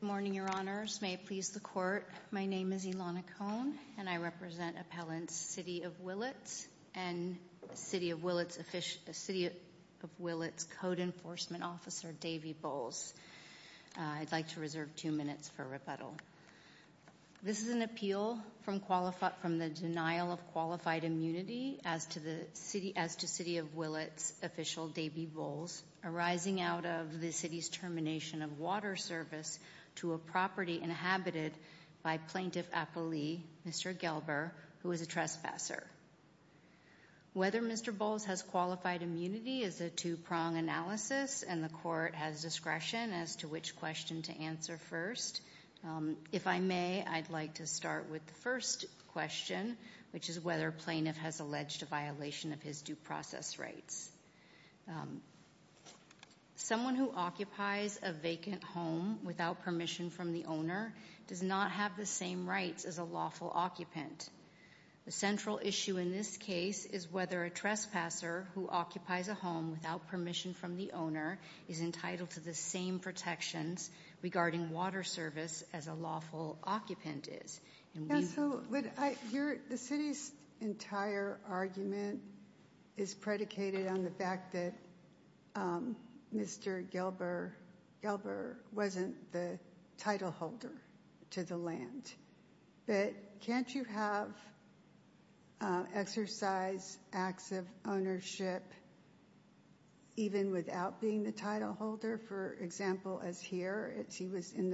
Good morning, your honors. May it please the court, my name is Ilana Cohn and I represent appellants City of Willits and City of Willits code enforcement officer Davy Bowles. I'd like to reserve two minutes for rebuttal. This is an appeal from the denial of qualified immunity as to City of Willits official Davy Bowles arising out of the city's termination of water service to a property inhabited by plaintiff appellee Mr. Gelber, who is a trespasser. Whether Mr. Bowles has qualified immunity is a two-prong analysis and the court has discretion as to which question to answer first. If I may, I'd like to start with the first question, which is whether a plaintiff has alleged a violation of his due process rights. Someone who occupies a vacant home without permission from the owner does not have the same rights as a lawful occupant. The central issue in this case is whether a trespasser who occupies a home without permission from the owner is entitled to the same protections regarding water service as a lawful occupant is. The city's entire argument is predicated on the fact that Mr. Gelber wasn't the title holder to the land. But can't you have exercise acts of ownership even without being the title owner? He was in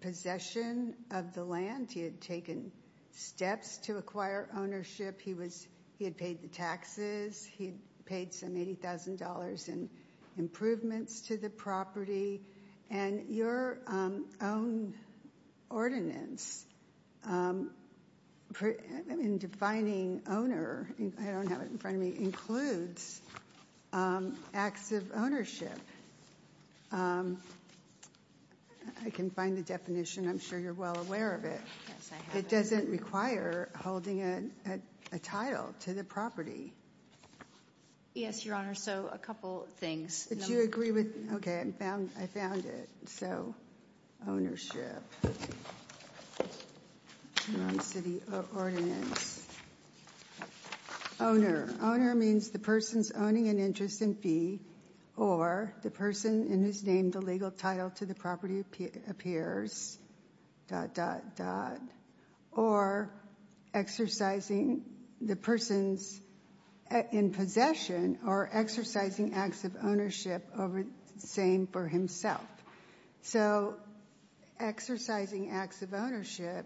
possession of the land. He had taken steps to acquire ownership. He had paid the taxes. He had paid some $80,000 in improvements to the property. And your own ordinance in defining owner, I don't have it in front of me, includes acts of ownership. I can find the definition. I'm sure you're well aware of it. It doesn't require holding a title to the property. Yes, Your Honor. So a couple things. Do you agree with me? Okay. I found it. So ownership. City ordinance. Owner. Owner means the person's owning an interest in fee or the person in his name, the legal title to the property appears, dot, dot, dot, or exercising the person's in possession or exercising acts of ownership over the same for himself. So exercising acts of ownership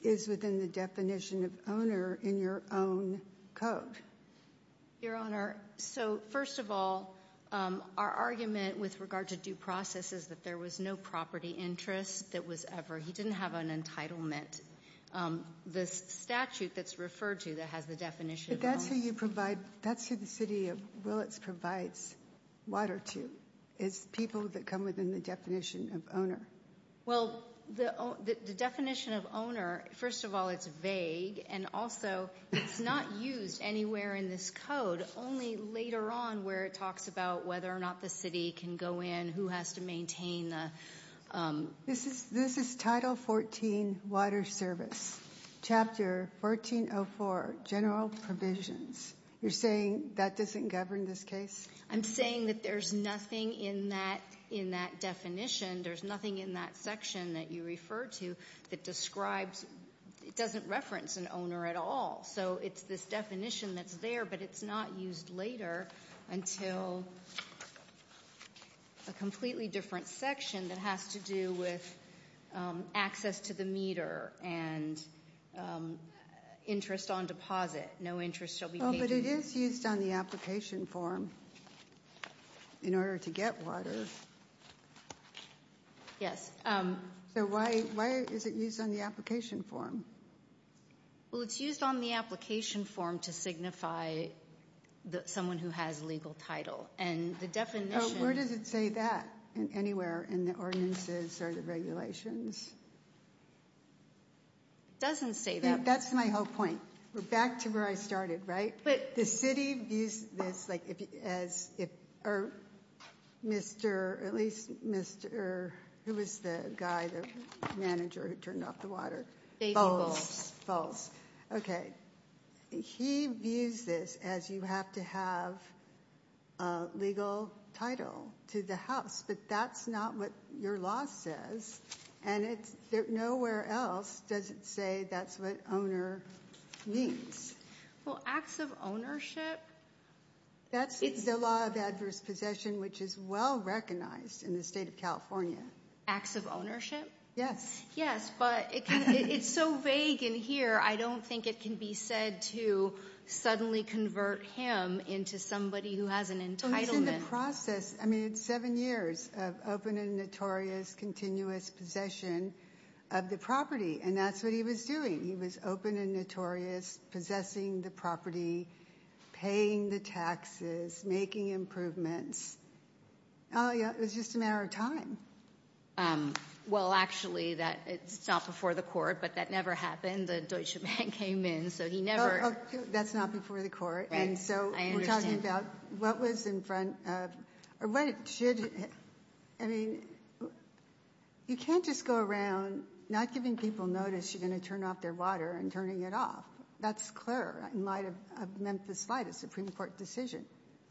is within the definition of owner in your own code. Your Honor, so first of all, our argument with regard to due process is that there was no property interest that was ever, he didn't have an entitlement. The statute that's referred to that has the definition of owner. But that's who you provide, that's who the City of Willets provides water to, is people that come within the definition of owner. Well, the definition of owner, first of all, it's vague and also it's not used anywhere in this code. Only later on where it talks about whether or not the city can go in, who has to maintain the... This is Title 14, Water Service, Chapter 1404, General Provisions. You're saying that doesn't govern this case? I'm saying that there's nothing in that definition, there's nothing in that section that you refer to that describes, it doesn't reference an owner at all. So it's this definition that's there, but it's not used later until a completely different section that has to do with access to the meter and interest on deposit. No interest shall be paid to... Well, but it is used on the application form in order to get water. Yes. So why is it used on the application form? Well, it's used on the application form to signify someone who has a legal title. And the definition... Oh, where does it say that? Anywhere in the ordinances or the regulations? Doesn't say that... That's my whole point. We're back to where I started, right? The city views this as if... Or Mr., at least Mr., who was the guy, the manager who turned off the water? Dave Eagles. False, false. Okay. He views this as you have to have a legal title to the house, but that's not what your law says. And nowhere else does it say that's what owner means. Well, acts of ownership? That's the law of adverse possession, which is well recognized in the state of California. Acts of ownership? Yes. Yes, but it's so vague in here. I don't think it can be said to suddenly convert him into somebody who has an entitlement. He was in the process, I mean, it's seven years of open and notorious, continuous possession of the property, and that's what he was doing. He was open and notorious, possessing the property, paying the taxes, making improvements. It was just a matter of time. Well actually, it's not before the court, but that never happened. The Deutsche Bank came in, so he never... That's not before the court. Right, I understand. And so we're talking about what was in front of, or what it should... I mean, you can't just go around not giving people notice you're going to turn off their water and turning it off. That's clear in light of Memphis Light, a Supreme Court decision.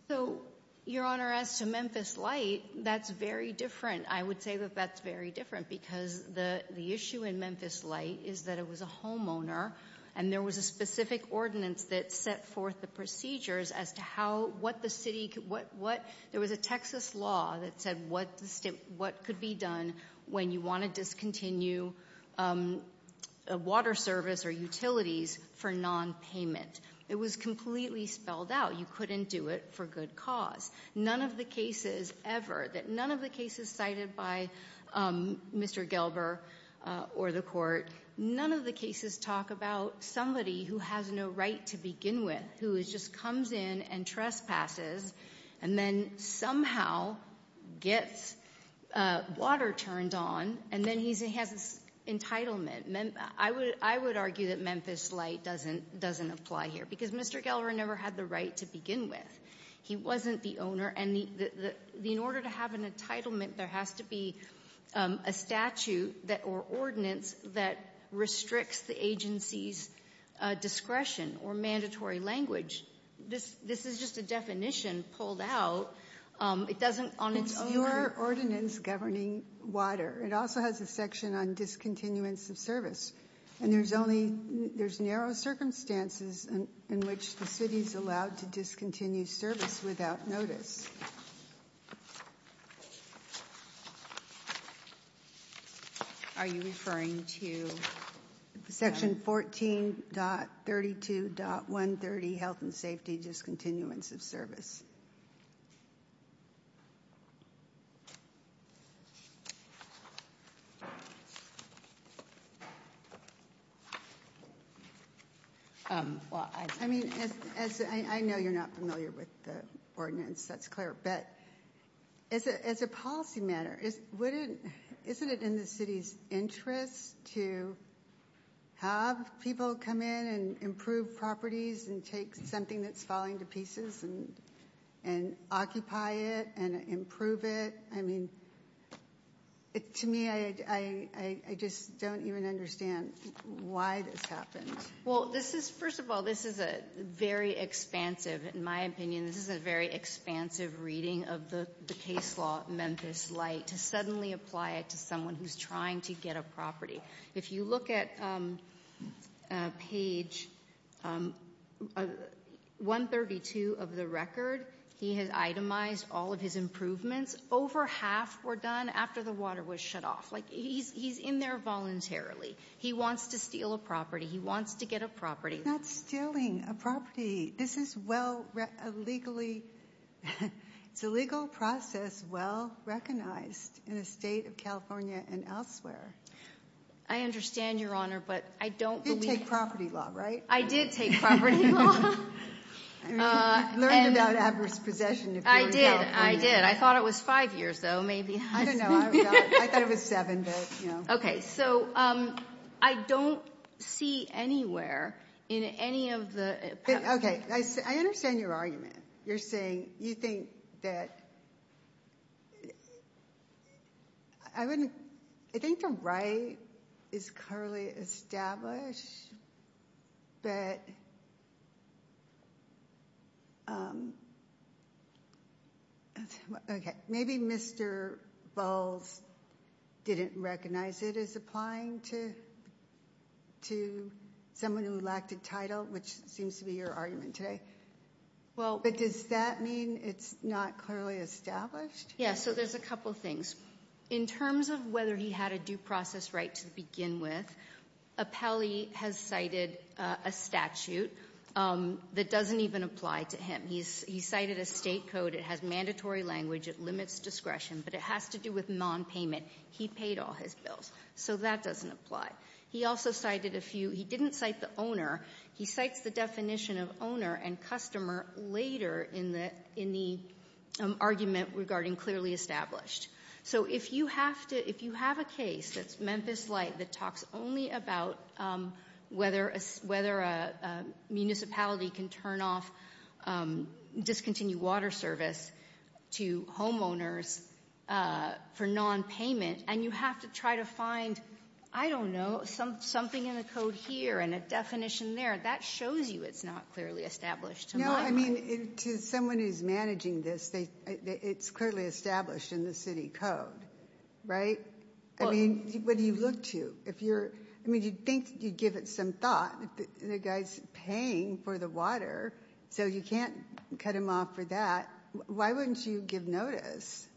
So, Your Honor, as to Memphis Light, that's very different. I would say that that's very different because the issue in Memphis Light is that it was a homeowner and there was a specific ordinance that set forth the procedures as to how, what the city could... There was a Texas law that said what could be done when you want to discontinue a water service or utilities for non-payment. It was completely spelled out. You couldn't do it for good cause. None of the cases ever, that none of the cases cited by Mr. Gelber or the court, none of the cases talk about somebody who has no right to begin with, who just comes in and trespasses and then somehow gets water turned on and then he has this entitlement. I would argue that Memphis Light doesn't apply here because Mr. Gelber never had the right to begin with. He wasn't the owner and in order to have an entitlement there has to be a statute or ordinance that restricts the agency's discretion or mandatory language. This is just a definition pulled out. It doesn't on its own... It's your ordinance governing water. It also has a section on discontinuance of service. And there's only, there's narrow circumstances in which the city's allowed to discontinue service without notice. Are you referring to... Section 14.32.130, health and safety discontinuance of service. I mean, I know you're not familiar with the ordinance, that's clear, but as a policy matter, isn't it in the city's interest to have people come in and improve properties and take something that's falling to pieces and occupy it and improve it? I mean, to me, I just don't even understand why this happened. Well, this is, first of all, this is a very expansive, in my opinion, this is a very expansive reading of the case law, Memphis Light, to suddenly apply it to someone who's trying to get a property. If you look at page 132 of the record, he has itemized all of his improvements. Over half were done after the water was shut off. Like, he's in there voluntarily. He wants to steal a property. He wants to get a property. He's not stealing a property. This is well, legally, it's a legal process well-recognized in the state of California and elsewhere. I understand, Your Honor, but I don't believe... You did take property law, right? I did take property law. Learned about adverse possession if you were in California. I did, I did. I thought it was five years, though, maybe. I don't know. I thought it was seven, but, you know. Okay, so, I don't see anywhere in any of the... Okay, I understand your argument. You're saying, you think that, I wouldn't, I think the right is clearly established, but... Okay, maybe Mr. Bowles didn't recognize it as applying to someone who lacked a title, which seems to be your argument today. But does that mean it's not clearly established? Yeah, so there's a couple things. In terms of whether he had a due process right to begin with, Apelli has cited a statute that doesn't even apply to him. He cited a state code. It has mandatory language. It limits discretion, but it has to do with non-payment. He paid all his bills, so that doesn't apply. He also cited a few, he didn't cite the owner. He in the argument regarding clearly established. So, if you have to, if you have a case that's Memphis Light that talks only about whether a municipality can turn off discontinued water service to homeowners for non-payment, and you have to try to find, I don't know, something in the code here, and a definition there, that shows you it's not clearly established to my mind. No, I mean, to someone who's managing this, it's clearly established in the city code, right? I mean, what do you look to? If you're, I mean, you'd think that you'd give it some thought. The guy's paying for the water, so you can't cut him off for that. Why wouldn't you give notice?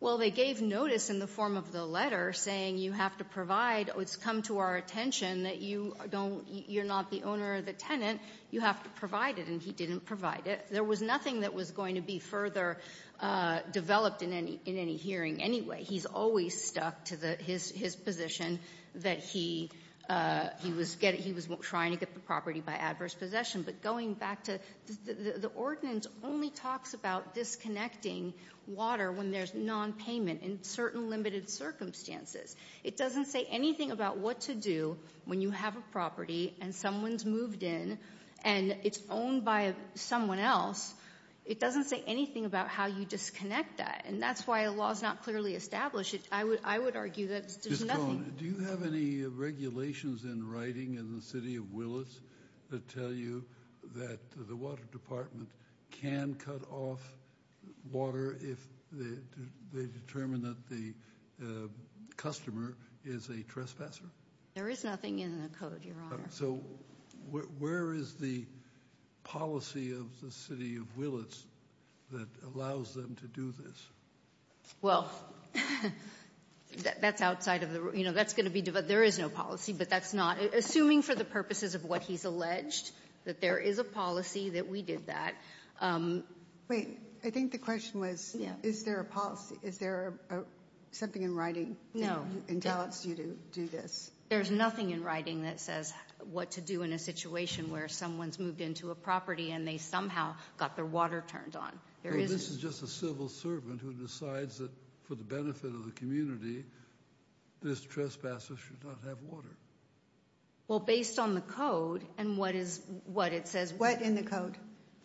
Well, they gave notice in the form of the letter saying you have to provide, it's come to our attention that you don't, you're not the owner or the tenant, you have to provide it, and he didn't provide it. There was nothing that was going to be further developed in any hearing anyway. He's always stuck to his position that he was trying to get the property by adverse possession. But going back to, the ordinance only talks about disconnecting water when there's non-payment in certain limited circumstances. It doesn't say anything about what to do when you have a property and someone's moved in and it's owned by someone else. It doesn't say anything about how you disconnect that, and that's why the law's not clearly established. I would argue that there's nothing. Ms. Cohn, do you have any regulations in writing in the city of Willis that tell you that the Water Department can cut off water if they determine that the customer is a trespasser? There is nothing in the code, Your Honor. So where is the policy of the city of Willis that allows them to do this? Well, that's outside of the, you know, that's going to be, there is no policy, but that's not, assuming for the purposes of what he's alleged, that there is a policy that we did that. Wait, I think the question was, is there a policy, is there something in writing that entails you to do this? There's nothing in writing that says what to do in a situation where someone's moved into a property and they somehow got their water turned on. This is just a civil servant who decides that for the benefit of the community, this trespasser should not have water. Well, based on the code and what it says. What in the code?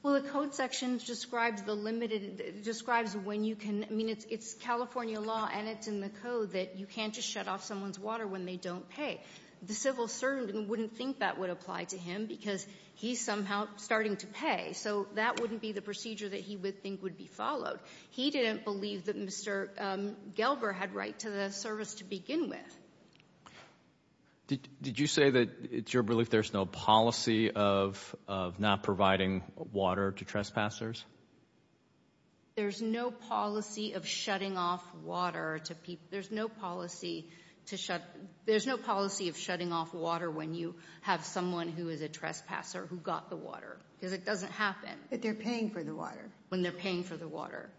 Well, the code section describes the limited, describes when you can, I mean, it's California law and it's in the code that you can't just shut off someone's water when they don't pay. The civil servant wouldn't think that would apply to him because he's somehow starting to pay. So that wouldn't be the procedure that he would think would be followed. He didn't believe that Mr. Gelber had right to the service to begin with. Did you say that it's your belief there's no policy of not providing water to trespassers? There's no policy of shutting off water to people. There's no policy to shut, there's no policy of shutting off water when you have someone who is a trespasser who got the water because it doesn't happen. But they're paying for the water. When they're paying for the water.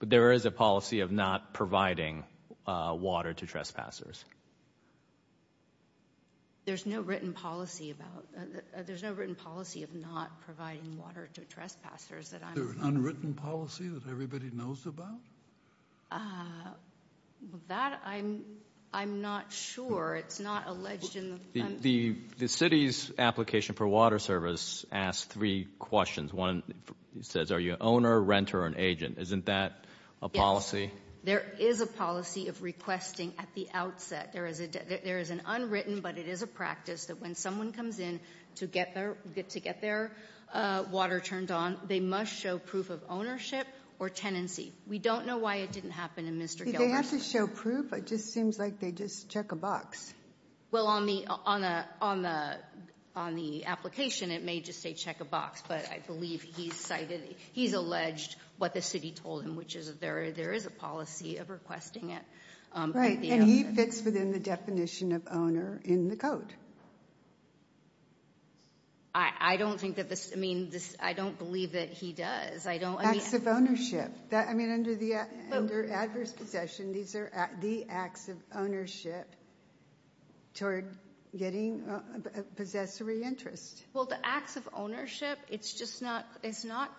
But there is a policy of not providing water to trespassers. There's no written policy about, there's no written policy of not providing water to trespassers. Is there an unwritten policy that everybody knows about? That I'm not sure. It's not alleged in the. The city's application for water service asked three questions. One says, are you an owner, renter, or an agent? Isn't that a policy? There is a policy of requesting at the outset. There is an unwritten, but it is a practice that when someone comes in to get their water turned on, they must show proof of ownership or tenancy. We don't know why it didn't happen in Mr. Gelber's case. Did they have to show proof? It just seems like they just check a box. Well, on the application, it may just say check a box. But I believe he's cited, he's alleged what the city told him, which is there is a policy of requesting it. Right, and he fits within the definition of owner in the code. I don't think that this, I mean, I don't believe that he does. I don't. Acts of ownership. I mean, under adverse possession, these are the acts of ownership toward getting a possessory interest. Well, the acts of ownership, it's just not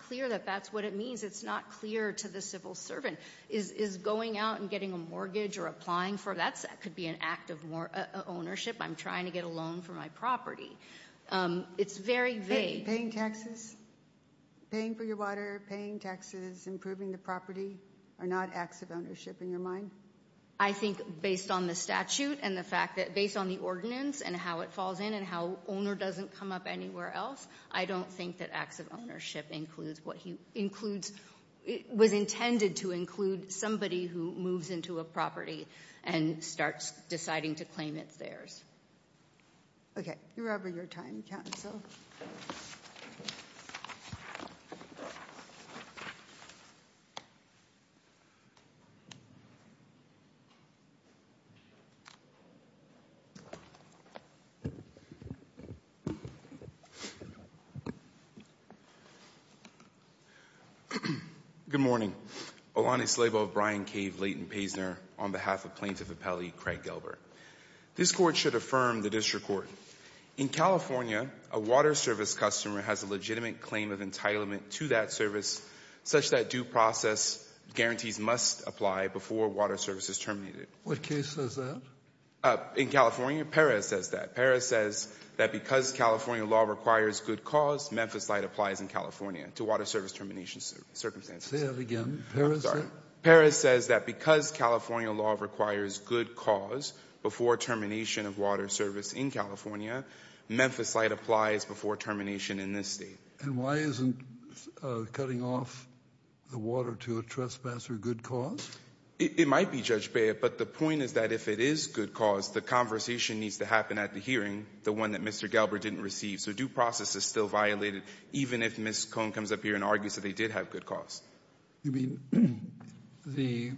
clear that that's what it means. It's not clear to the civil servant. Is going out and getting a mortgage or applying for, that could be an act of ownership. I'm trying to get a loan for my property. It's very vague. Paying taxes, paying for your water, paying taxes, improving the property, are not acts of ownership in your mind? I think based on the statute and the fact that, based on the ordinance and how it falls in and how owner doesn't come up anywhere else, I don't think that acts of ownership includes what he includes. It was intended to include somebody who moves into a property and starts deciding to claim it's theirs. Okay, you're over your time, counsel. Good morning. Olani Slabo of Brian Cave Layton Paisner on behalf of Plaintiff Appellee Craig Gilbert. This court should affirm the district court. In California, a water service customer has a legitimate claim of entitlement to that service such that due process guarantees must apply before water service is terminated. What case says that? In California, Perez says that. Perez says that because California law requires good cause, Memphis Light applies in California to water service termination circumstances. Say that again, Perez says? Perez says that because California law requires good cause before termination of water service in California, Memphis Light applies before termination in this state. And why isn't cutting off the water to a trespasser good cause? It might be, Judge Baird, but the point is that if it is good cause, the conversation needs to happen at the hearing, the one that Mr. Galbraith didn't receive. So due process is still violated, even if Ms. Cone comes up here and argues that they did have good cause. You mean the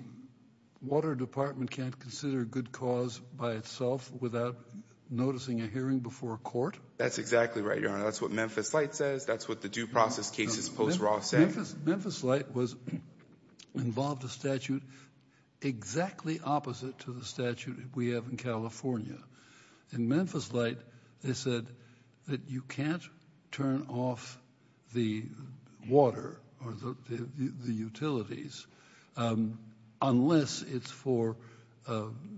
water department can't consider good cause by itself without noticing a hearing before court? That's exactly right, Your Honor. That's what Memphis Light says. That's what the due process case is supposed to be saying. Memphis Light was involved in a statute exactly opposite to the statute we have in California. In Memphis Light, they said that you can't turn off the water, or the utilities, unless it's for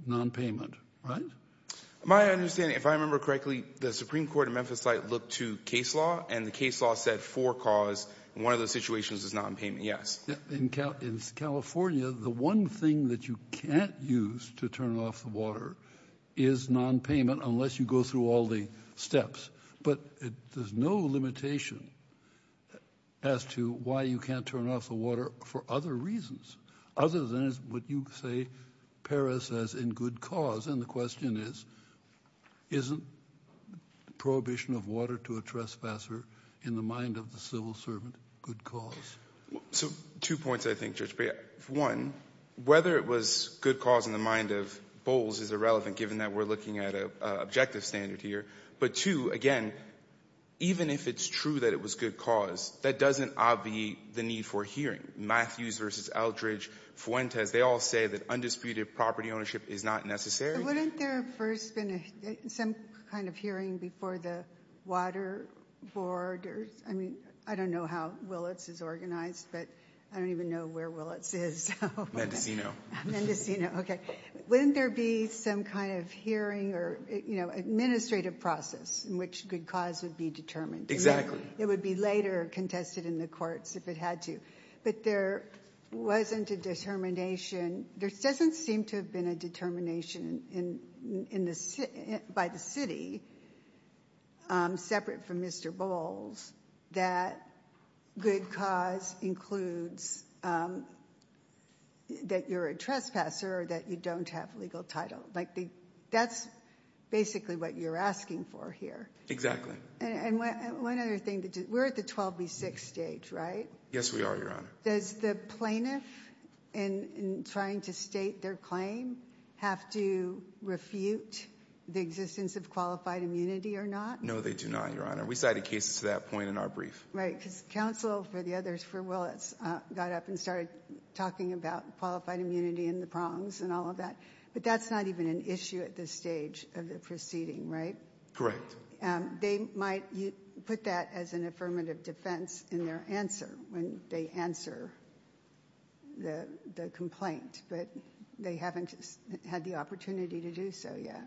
non-payment, right? My understanding, if I remember correctly, the Supreme Court in Memphis Light looked to case law, and the case law said for cause, and one of the situations is non-payment, yes. In California, the one thing that you can't use to turn off the water is non-payment unless you go through all the steps. But there's no limitation as to why you can't turn off the water for other reasons, other than what you say Paris says in good cause. And the question is, isn't prohibition of water to a trespasser in the mind of the civil servant good cause? So two points, I think, Judge Brey. One, whether it was good cause in the mind of Bowles is irrelevant, given that we're looking at an objective standard here. But two, again, even if it's true that it was good cause, that doesn't obviate the need for hearing. Matthews versus Eldridge, Fuentes, they all say that undisputed property ownership is not necessary. So wouldn't there have first been some kind of hearing before the Water Board? I mean, I don't know how Willits is organized, but I don't even know where Willits is. Mendocino. Mendocino, okay. Wouldn't there be some kind of hearing or administrative process in which good cause would be determined? Exactly. It would be later contested in the courts if it had to. But there wasn't a determination. There doesn't seem to have been a determination by the city, separate from Mr. Bowles, that good cause includes that you're a trespasser or that you don't have legal title. Like, that's basically what you're asking for here. Exactly. And one other thing, we're at the 12B6 stage, right? Yes, we are, Your Honor. Does the plaintiff, in trying to state their claim, have to refute the existence of qualified immunity or not? No, they do not, Your Honor. We cited cases to that point in our brief. Right, because counsel for the others for Willits got up and started talking about qualified immunity and the prongs and all of that. But that's not even an issue at this stage of the proceeding, right? Correct. They might put that as an affirmative defense in their answer when they answer the complaint. But they haven't had the opportunity to do so yet.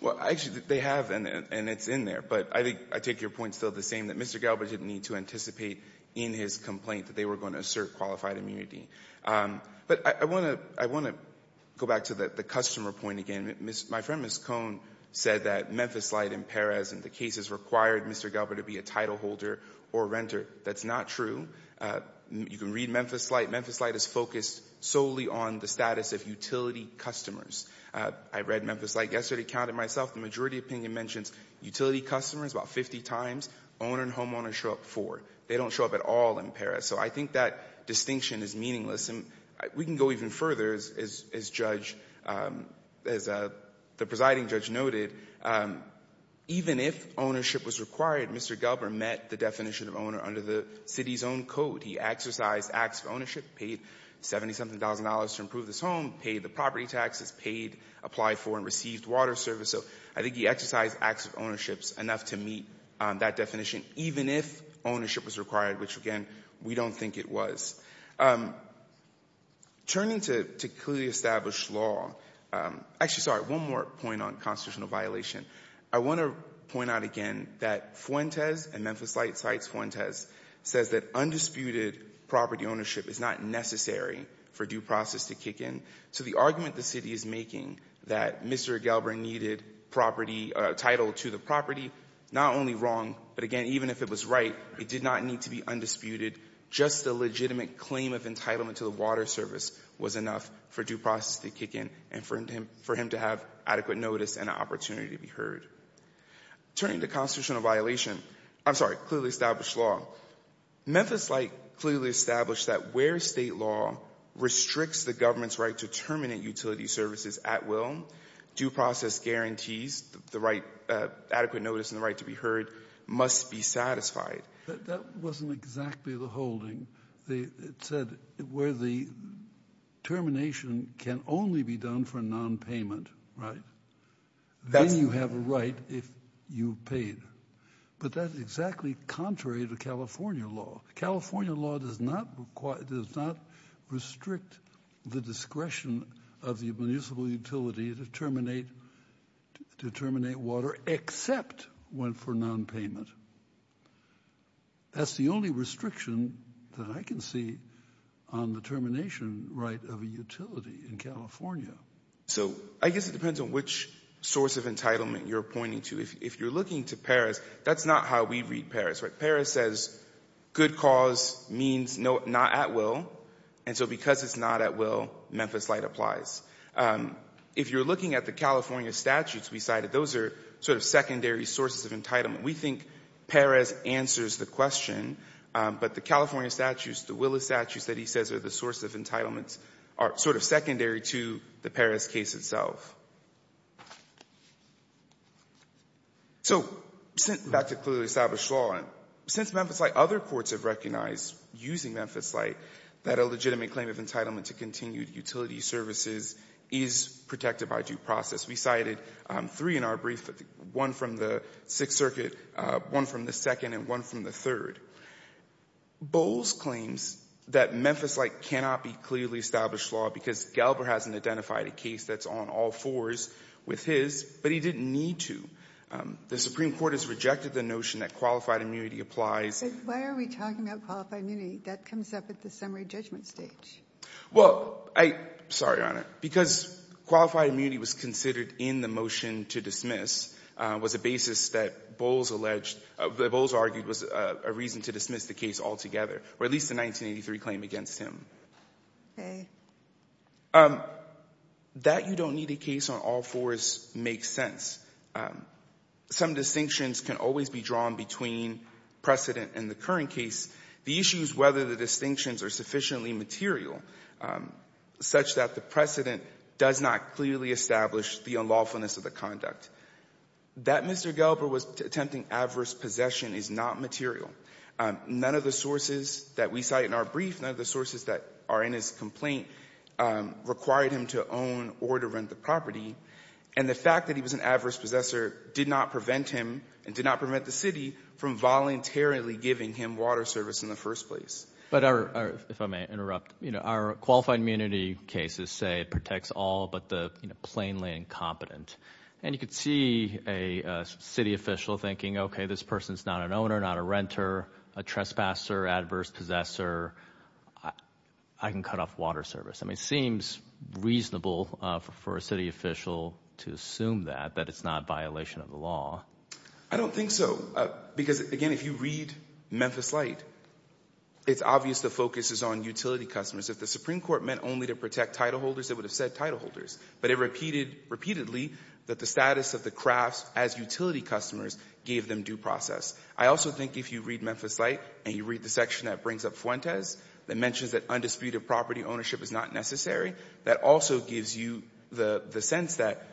Well, actually, they have, and it's in there. But I think I take your point still the same, that Mr. Galbraith didn't need to anticipate in his complaint that they were going to assert qualified immunity. But I want to go back to the customer point again. My friend, Ms. Cohn, said that Memphis Light and Perez in the cases required Mr. Galbraith to be a title holder or renter. That's not true. You can read Memphis Light. Memphis Light is focused solely on the status of utility customers. I read Memphis Light yesterday, counted myself. The majority opinion mentions utility customers about 50 times. Owner and homeowner show up four. They don't show up at all in Perez. So I think that distinction is meaningless. And we can go even further, as the presiding judge noted. Even if ownership was required, Mr. Galbraith met the definition of owner under the city's own code. He exercised acts of ownership, paid 70-something thousand dollars to improve this home, paid the property taxes, paid, applied for and received water service. So I think he exercised acts of ownership enough to meet that definition, even if ownership was required, which again, we don't think it was. Turning to clearly established law, actually, sorry, one more point on constitutional violation. I want to point out again that Fuentes and Memphis Light cites Fuentes, says that undisputed property ownership is not necessary for due process to kick in. So the argument the city is making that Mr. Galbraith needed title to the property, not only wrong, but again, even if it was right, it did not need to be undisputed. Just a legitimate claim of entitlement to the water service was enough for due process to kick in and for him to have adequate notice and an opportunity to be heard. Turning to constitutional violation, I'm sorry, clearly established law, Memphis Light clearly established that where state law restricts the government's right to terminate utility services at will, due process guarantees, the right, adequate notice and the right to be heard must be satisfied. That wasn't exactly the holding. It said where the termination can only be done for nonpayment, right? Then you have a right if you paid. But that's exactly contrary to California law. California law does not restrict the discretion of the municipal utility to terminate water except when for nonpayment. That's the only restriction that I can see on the termination right of a utility in California. So I guess it depends on which source of entitlement you're pointing to. If you're looking to Paris, that's not how we read Paris, right? Paris says good cause means not at will. And so because it's not at will, Memphis Light applies. If you're looking at the California statutes we cited, those are sort of secondary sources of entitlement. We think Paris answers the question, but the California statutes, the Willis statutes that he says are the source of entitlements are sort of secondary to the Paris case itself. So back to clearly established law, since Memphis Light, other courts have recognized using Memphis Light that a legitimate claim of entitlement to continued utility services is protected by due process. We cited three in our brief, one from the Sixth Circuit, one from the Second, and one from the Third. Bowles claims that Memphis Light cannot be clearly established law because Galbraith hasn't identified a case that's on all four of them. Galbraith has identified a case on all fours with his, but he didn't need to. The Supreme Court has rejected the notion that qualified immunity applies. But why are we talking about qualified immunity? That comes up at the summary judgment stage. Well, I — sorry, Your Honor. Because qualified immunity was considered in the motion to dismiss, was a basis that Bowles alleged — that Bowles argued was a reason to dismiss the case altogether, or at least the 1983 claim against him. Okay. That you don't need a case on all fours makes sense. Some distinctions can always be drawn between precedent and the current case. The issue is whether the distinctions are sufficiently material such that the precedent does not clearly establish the unlawfulness of the conduct. That Mr. Galbraith was attempting adverse possession is not material. None of the sources that we cite in our brief, none of the sources that are in his complaint required him to own or to rent the property. And the fact that he was an adverse possessor did not prevent him and did not prevent the city from voluntarily giving him water service in the first place. But our — if I may interrupt. You know, our qualified immunity cases say it protects all but the plainly incompetent. And you could see a city official thinking, okay, this person's not an owner, not a renter, a trespasser, adverse possessor, I can cut off water service. I mean, it seems reasonable for a city official to assume that, that it's not a violation of the law. I don't think so. Because, again, if you read Memphis Light, it's obvious the focus is on utility customers. If the Supreme Court meant only to protect title holders, it would have said title holders. But it repeated repeatedly that the status of the crafts as utility customers gave them due process. I also think if you read Memphis Light and you read the section that brings up Fuentes that mentions that undisputed property ownership is not necessary, that also gives you the sense that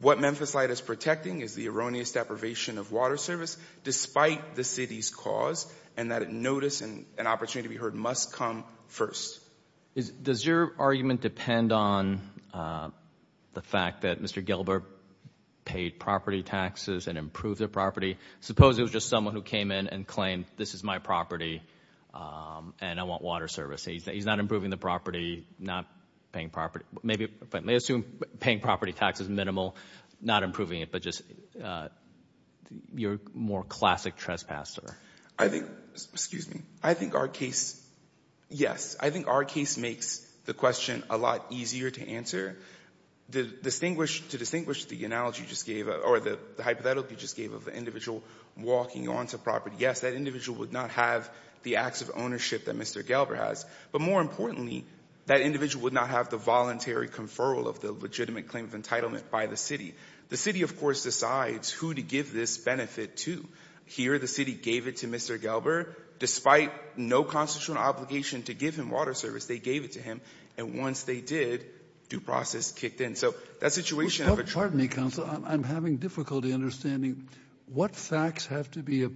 what Memphis Light is protecting is the erroneous deprivation of water service despite the city's cause and that notice and opportunity to be heard must come first. Does your argument depend on the fact that Mr. Gilbert paid property taxes and improved the property? Suppose it was just someone who came in and claimed, this is my property, and I want water service. He's not improving the property, not paying property. They assume paying property tax is minimal, not improving it, but just you're a more classic trespasser. I think, excuse me, I think our case, yes, I think our case makes the question a lot easier to answer. To distinguish the analogy you just gave or the hypothetical you just gave of the individual walking onto property, yes, that individual would not have the acts of ownership that Mr. Gilbert has. But more importantly, that individual would not have the voluntary conferral of the legitimate claim of entitlement by the city. The city, of course, decides who to give this benefit to. Here the city gave it to Mr. Gilbert despite no constitutional obligation to give him water service. They gave it to him. And once they did, due process kicked in. So that situation of a – Well, pardon me, counsel. I'm having difficulty understanding what facts have to be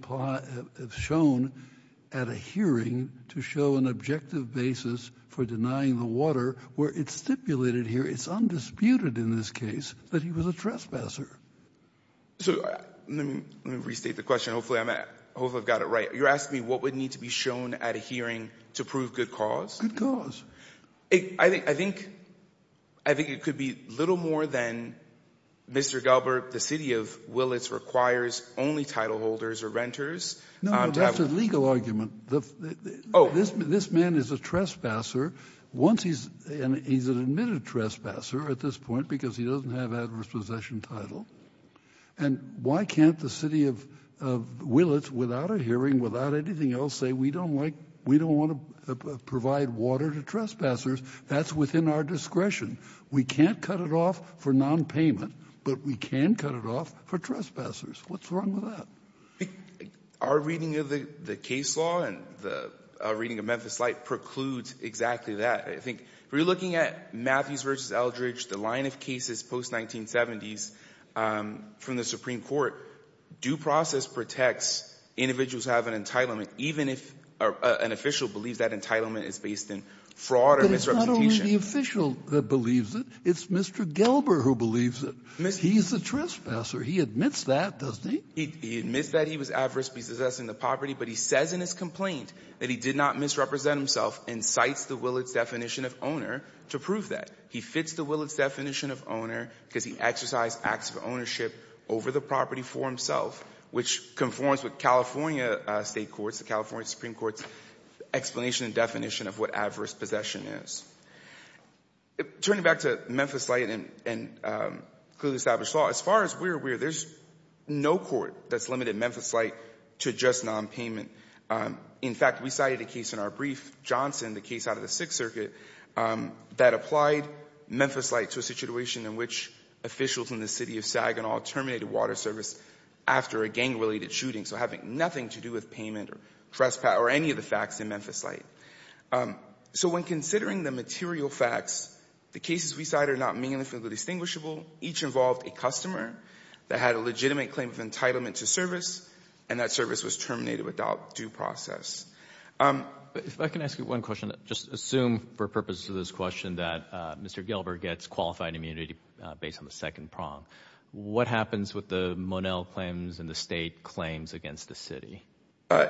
shown at a hearing to show an objective basis for denying the water, where it's stipulated here, it's undisputed in this case, that he was a trespasser. So let me restate the question. Hopefully I've got it right. You're asking me what would need to be shown at a hearing to prove good cause? Good cause. I think it could be little more than Mr. Gilbert, the city of Willits, requires only title holders or renters. No, that's a legal argument. Oh. This man is a trespasser. Once he's – he's an admitted trespasser at this point because he doesn't have adverse possession title. And why can't the city of Willits, without a hearing, without anything else, say we don't like – we don't want to provide water to trespassers? That's within our discretion. We can't cut it off for nonpayment, but we can cut it off for trespassers. What's wrong with that? Our reading of the case law and the reading of Memphis Light precludes exactly that. I think if we're looking at Matthews v. Eldridge, the line of cases post-1970s from the Supreme Court, due process protects individuals who have an entitlement even if an official believes that entitlement is based in fraud or misrepresentation. But it's not only the official that believes it. It's Mr. Gilbert who believes it. He's the trespasser. He admits that, doesn't he? He admits that he was adversely possessing the property, but he says in his complaint that he did not misrepresent himself and cites the Willits definition of owner to prove that. He fits the Willits definition of owner because he exercised acts of ownership over the property for himself, which conforms with California State courts, the California Supreme Court's explanation and definition of what adverse possession is. Turning back to Memphis Light and clearly established law, as far as we're aware, there's no court that's limited Memphis Light to just nonpayment. In fact, we cited a case in our brief, Johnson, the case out of the Sixth Circuit, that applied Memphis Light to a situation in which officials in the city of Saginaw terminated water service after a gang-related shooting, so having nothing to do with payment or trespass or any of the facts in Memphis Light. So when considering the material facts, the cases we cite are not meaningfully distinguishable. Each involved a customer that had a legitimate claim of entitlement to service, and that service was terminated without due process. If I can ask you one question. Just assume for purposes of this question that Mr. Gilbert gets qualified immunity based on the second prong. What happens with the Monell claims and the State claims against the city?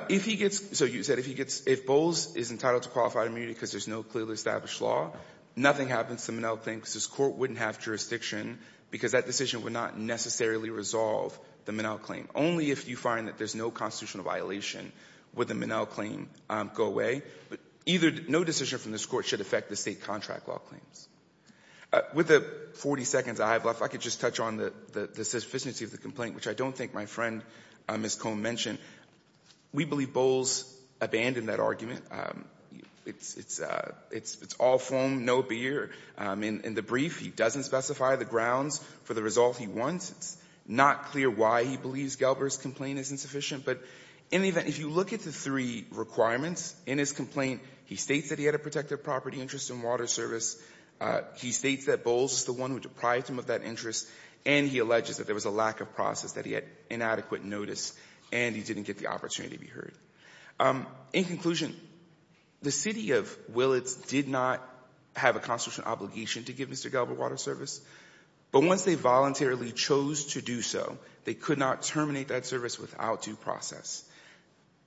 If he gets – so you said if he gets – if Bowles is entitled to qualified immunity because there's no clearly established law, nothing happens to the Monell claim because his court wouldn't have jurisdiction because that decision would not necessarily resolve the Monell claim. Only if you find that there's no constitutional violation would the Monell claim go away. But either – no decision from this Court should affect the State contract law claims. With the 40 seconds I have left, I could just touch on the sufficiency of the complaint, which I don't think my friend Ms. Cohn mentioned. We believe Bowles abandoned that argument. It's all foam, no beer. In the brief, he doesn't specify the grounds for the result he wants. It's not clear why he believes Gilbert's complaint is insufficient. But in the event – if you look at the three requirements in his complaint, he states that he had a protective property interest in water service. He states that Bowles is the one who deprived him of that interest. And he alleges that there was a lack of process, that he had inadequate notice, and he didn't get the opportunity to be heard. In conclusion, the city of Willits did not have a constitutional obligation to give Mr. Gilbert water service. But once they voluntarily chose to do so, they could not terminate that service without due process.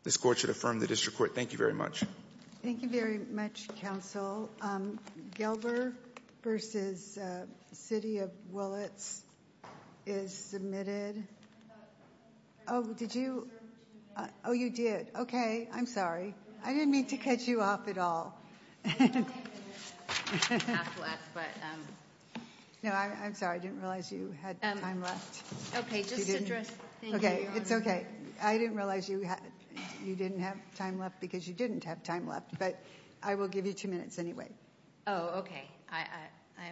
This Court should affirm the district court. Thank you very much. Thank you very much, counsel. Gilbert v. City of Willits is submitted. Oh, did you – oh, you did. Okay. I'm sorry. I didn't mean to cut you off at all. Half left, but – No, I'm sorry. I didn't realize you had time left. Okay. Just to address – Okay. It's okay. I didn't realize you didn't have time left because you didn't have time left. But I will give you two minutes anyway. Oh, okay. I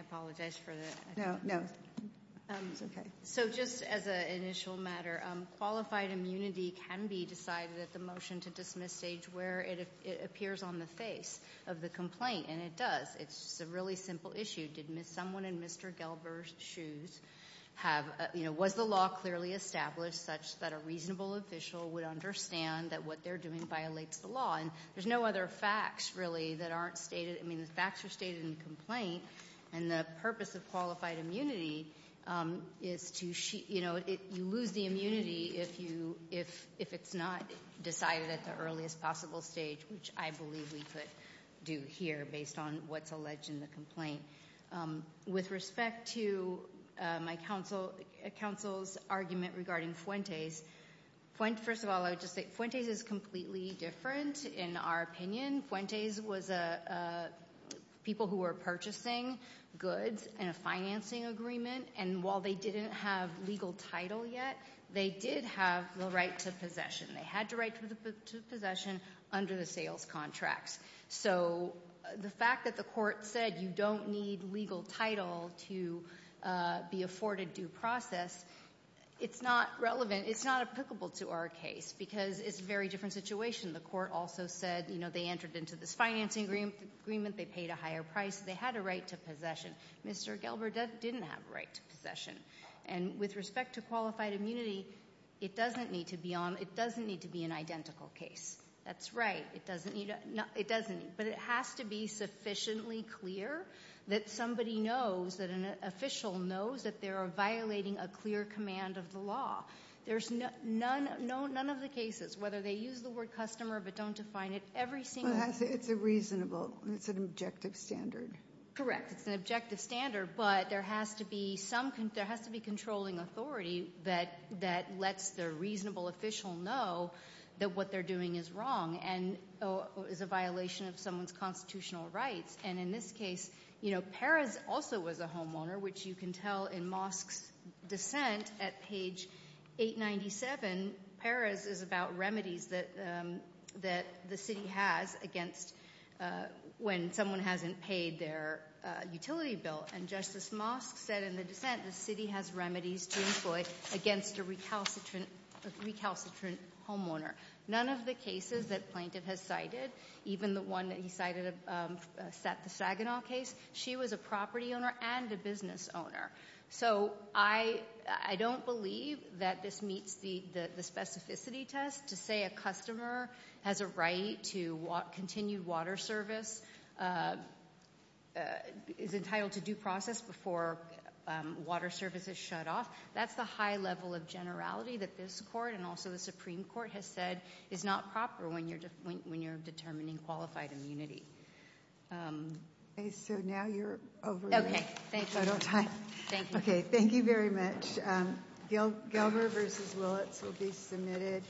apologize for the – No, no. It's okay. So just as an initial matter, qualified immunity can be decided at the motion to dismiss stage where it appears on the face of the complaint. And it does. It's a really simple issue. Did someone in Mr. Gilbert's shoes have – was the law clearly established such that a reasonable official would understand that what they're doing violates the law? And there's no other facts, really, that aren't stated. I mean, the facts are stated in the complaint. And the purpose of qualified immunity is to – you lose the immunity if it's not decided at the earliest possible stage, which I believe we could do here based on what's alleged in the complaint. With respect to my counsel's argument regarding Fuentes, first of all, I would just say Fuentes is completely different in our opinion. Fuentes was a – people who were purchasing goods in a financing agreement. And while they didn't have legal title yet, they did have the right to possession. They had the right to possession under the sales contracts. So the fact that the court said you don't need legal title to be afforded due process, it's not relevant. It's not applicable to our case because it's a very different situation. The court also said they entered into this financing agreement, they paid a higher price, they had a right to possession. Mr. Gelber didn't have a right to possession. And with respect to qualified immunity, it doesn't need to be an identical case. That's right. It doesn't need – but it has to be sufficiently clear that somebody knows, that an official knows that they are violating a clear command of the law. There's none of the cases, whether they use the word customer but don't define it, every single – It's a reasonable – it's an objective standard. Correct. It's an objective standard, but there has to be some – there has to be controlling authority that lets the reasonable official know that what they're doing is wrong and is a violation of someone's constitutional rights. And in this case, Perez also was a homeowner, which you can tell in Mosk's dissent at page 897. Perez is about remedies that the city has against when someone hasn't paid their utility bill. And Justice Mosk said in the dissent the city has remedies to employ against a recalcitrant homeowner. None of the cases that Plaintiff has cited, even the one that he cited, the Saginaw case, she was a property owner and a business owner. So I don't believe that this meets the specificity test to say a customer has a right to continued water service, is entitled to due process before water service is shut off. That's the high level of generality that this court and also the Supreme Court has said is not proper when you're determining qualified immunity. Okay, so now you're over your total time. Okay, thank you. Okay, thank you very much. Gelber v. Willits will be submitted.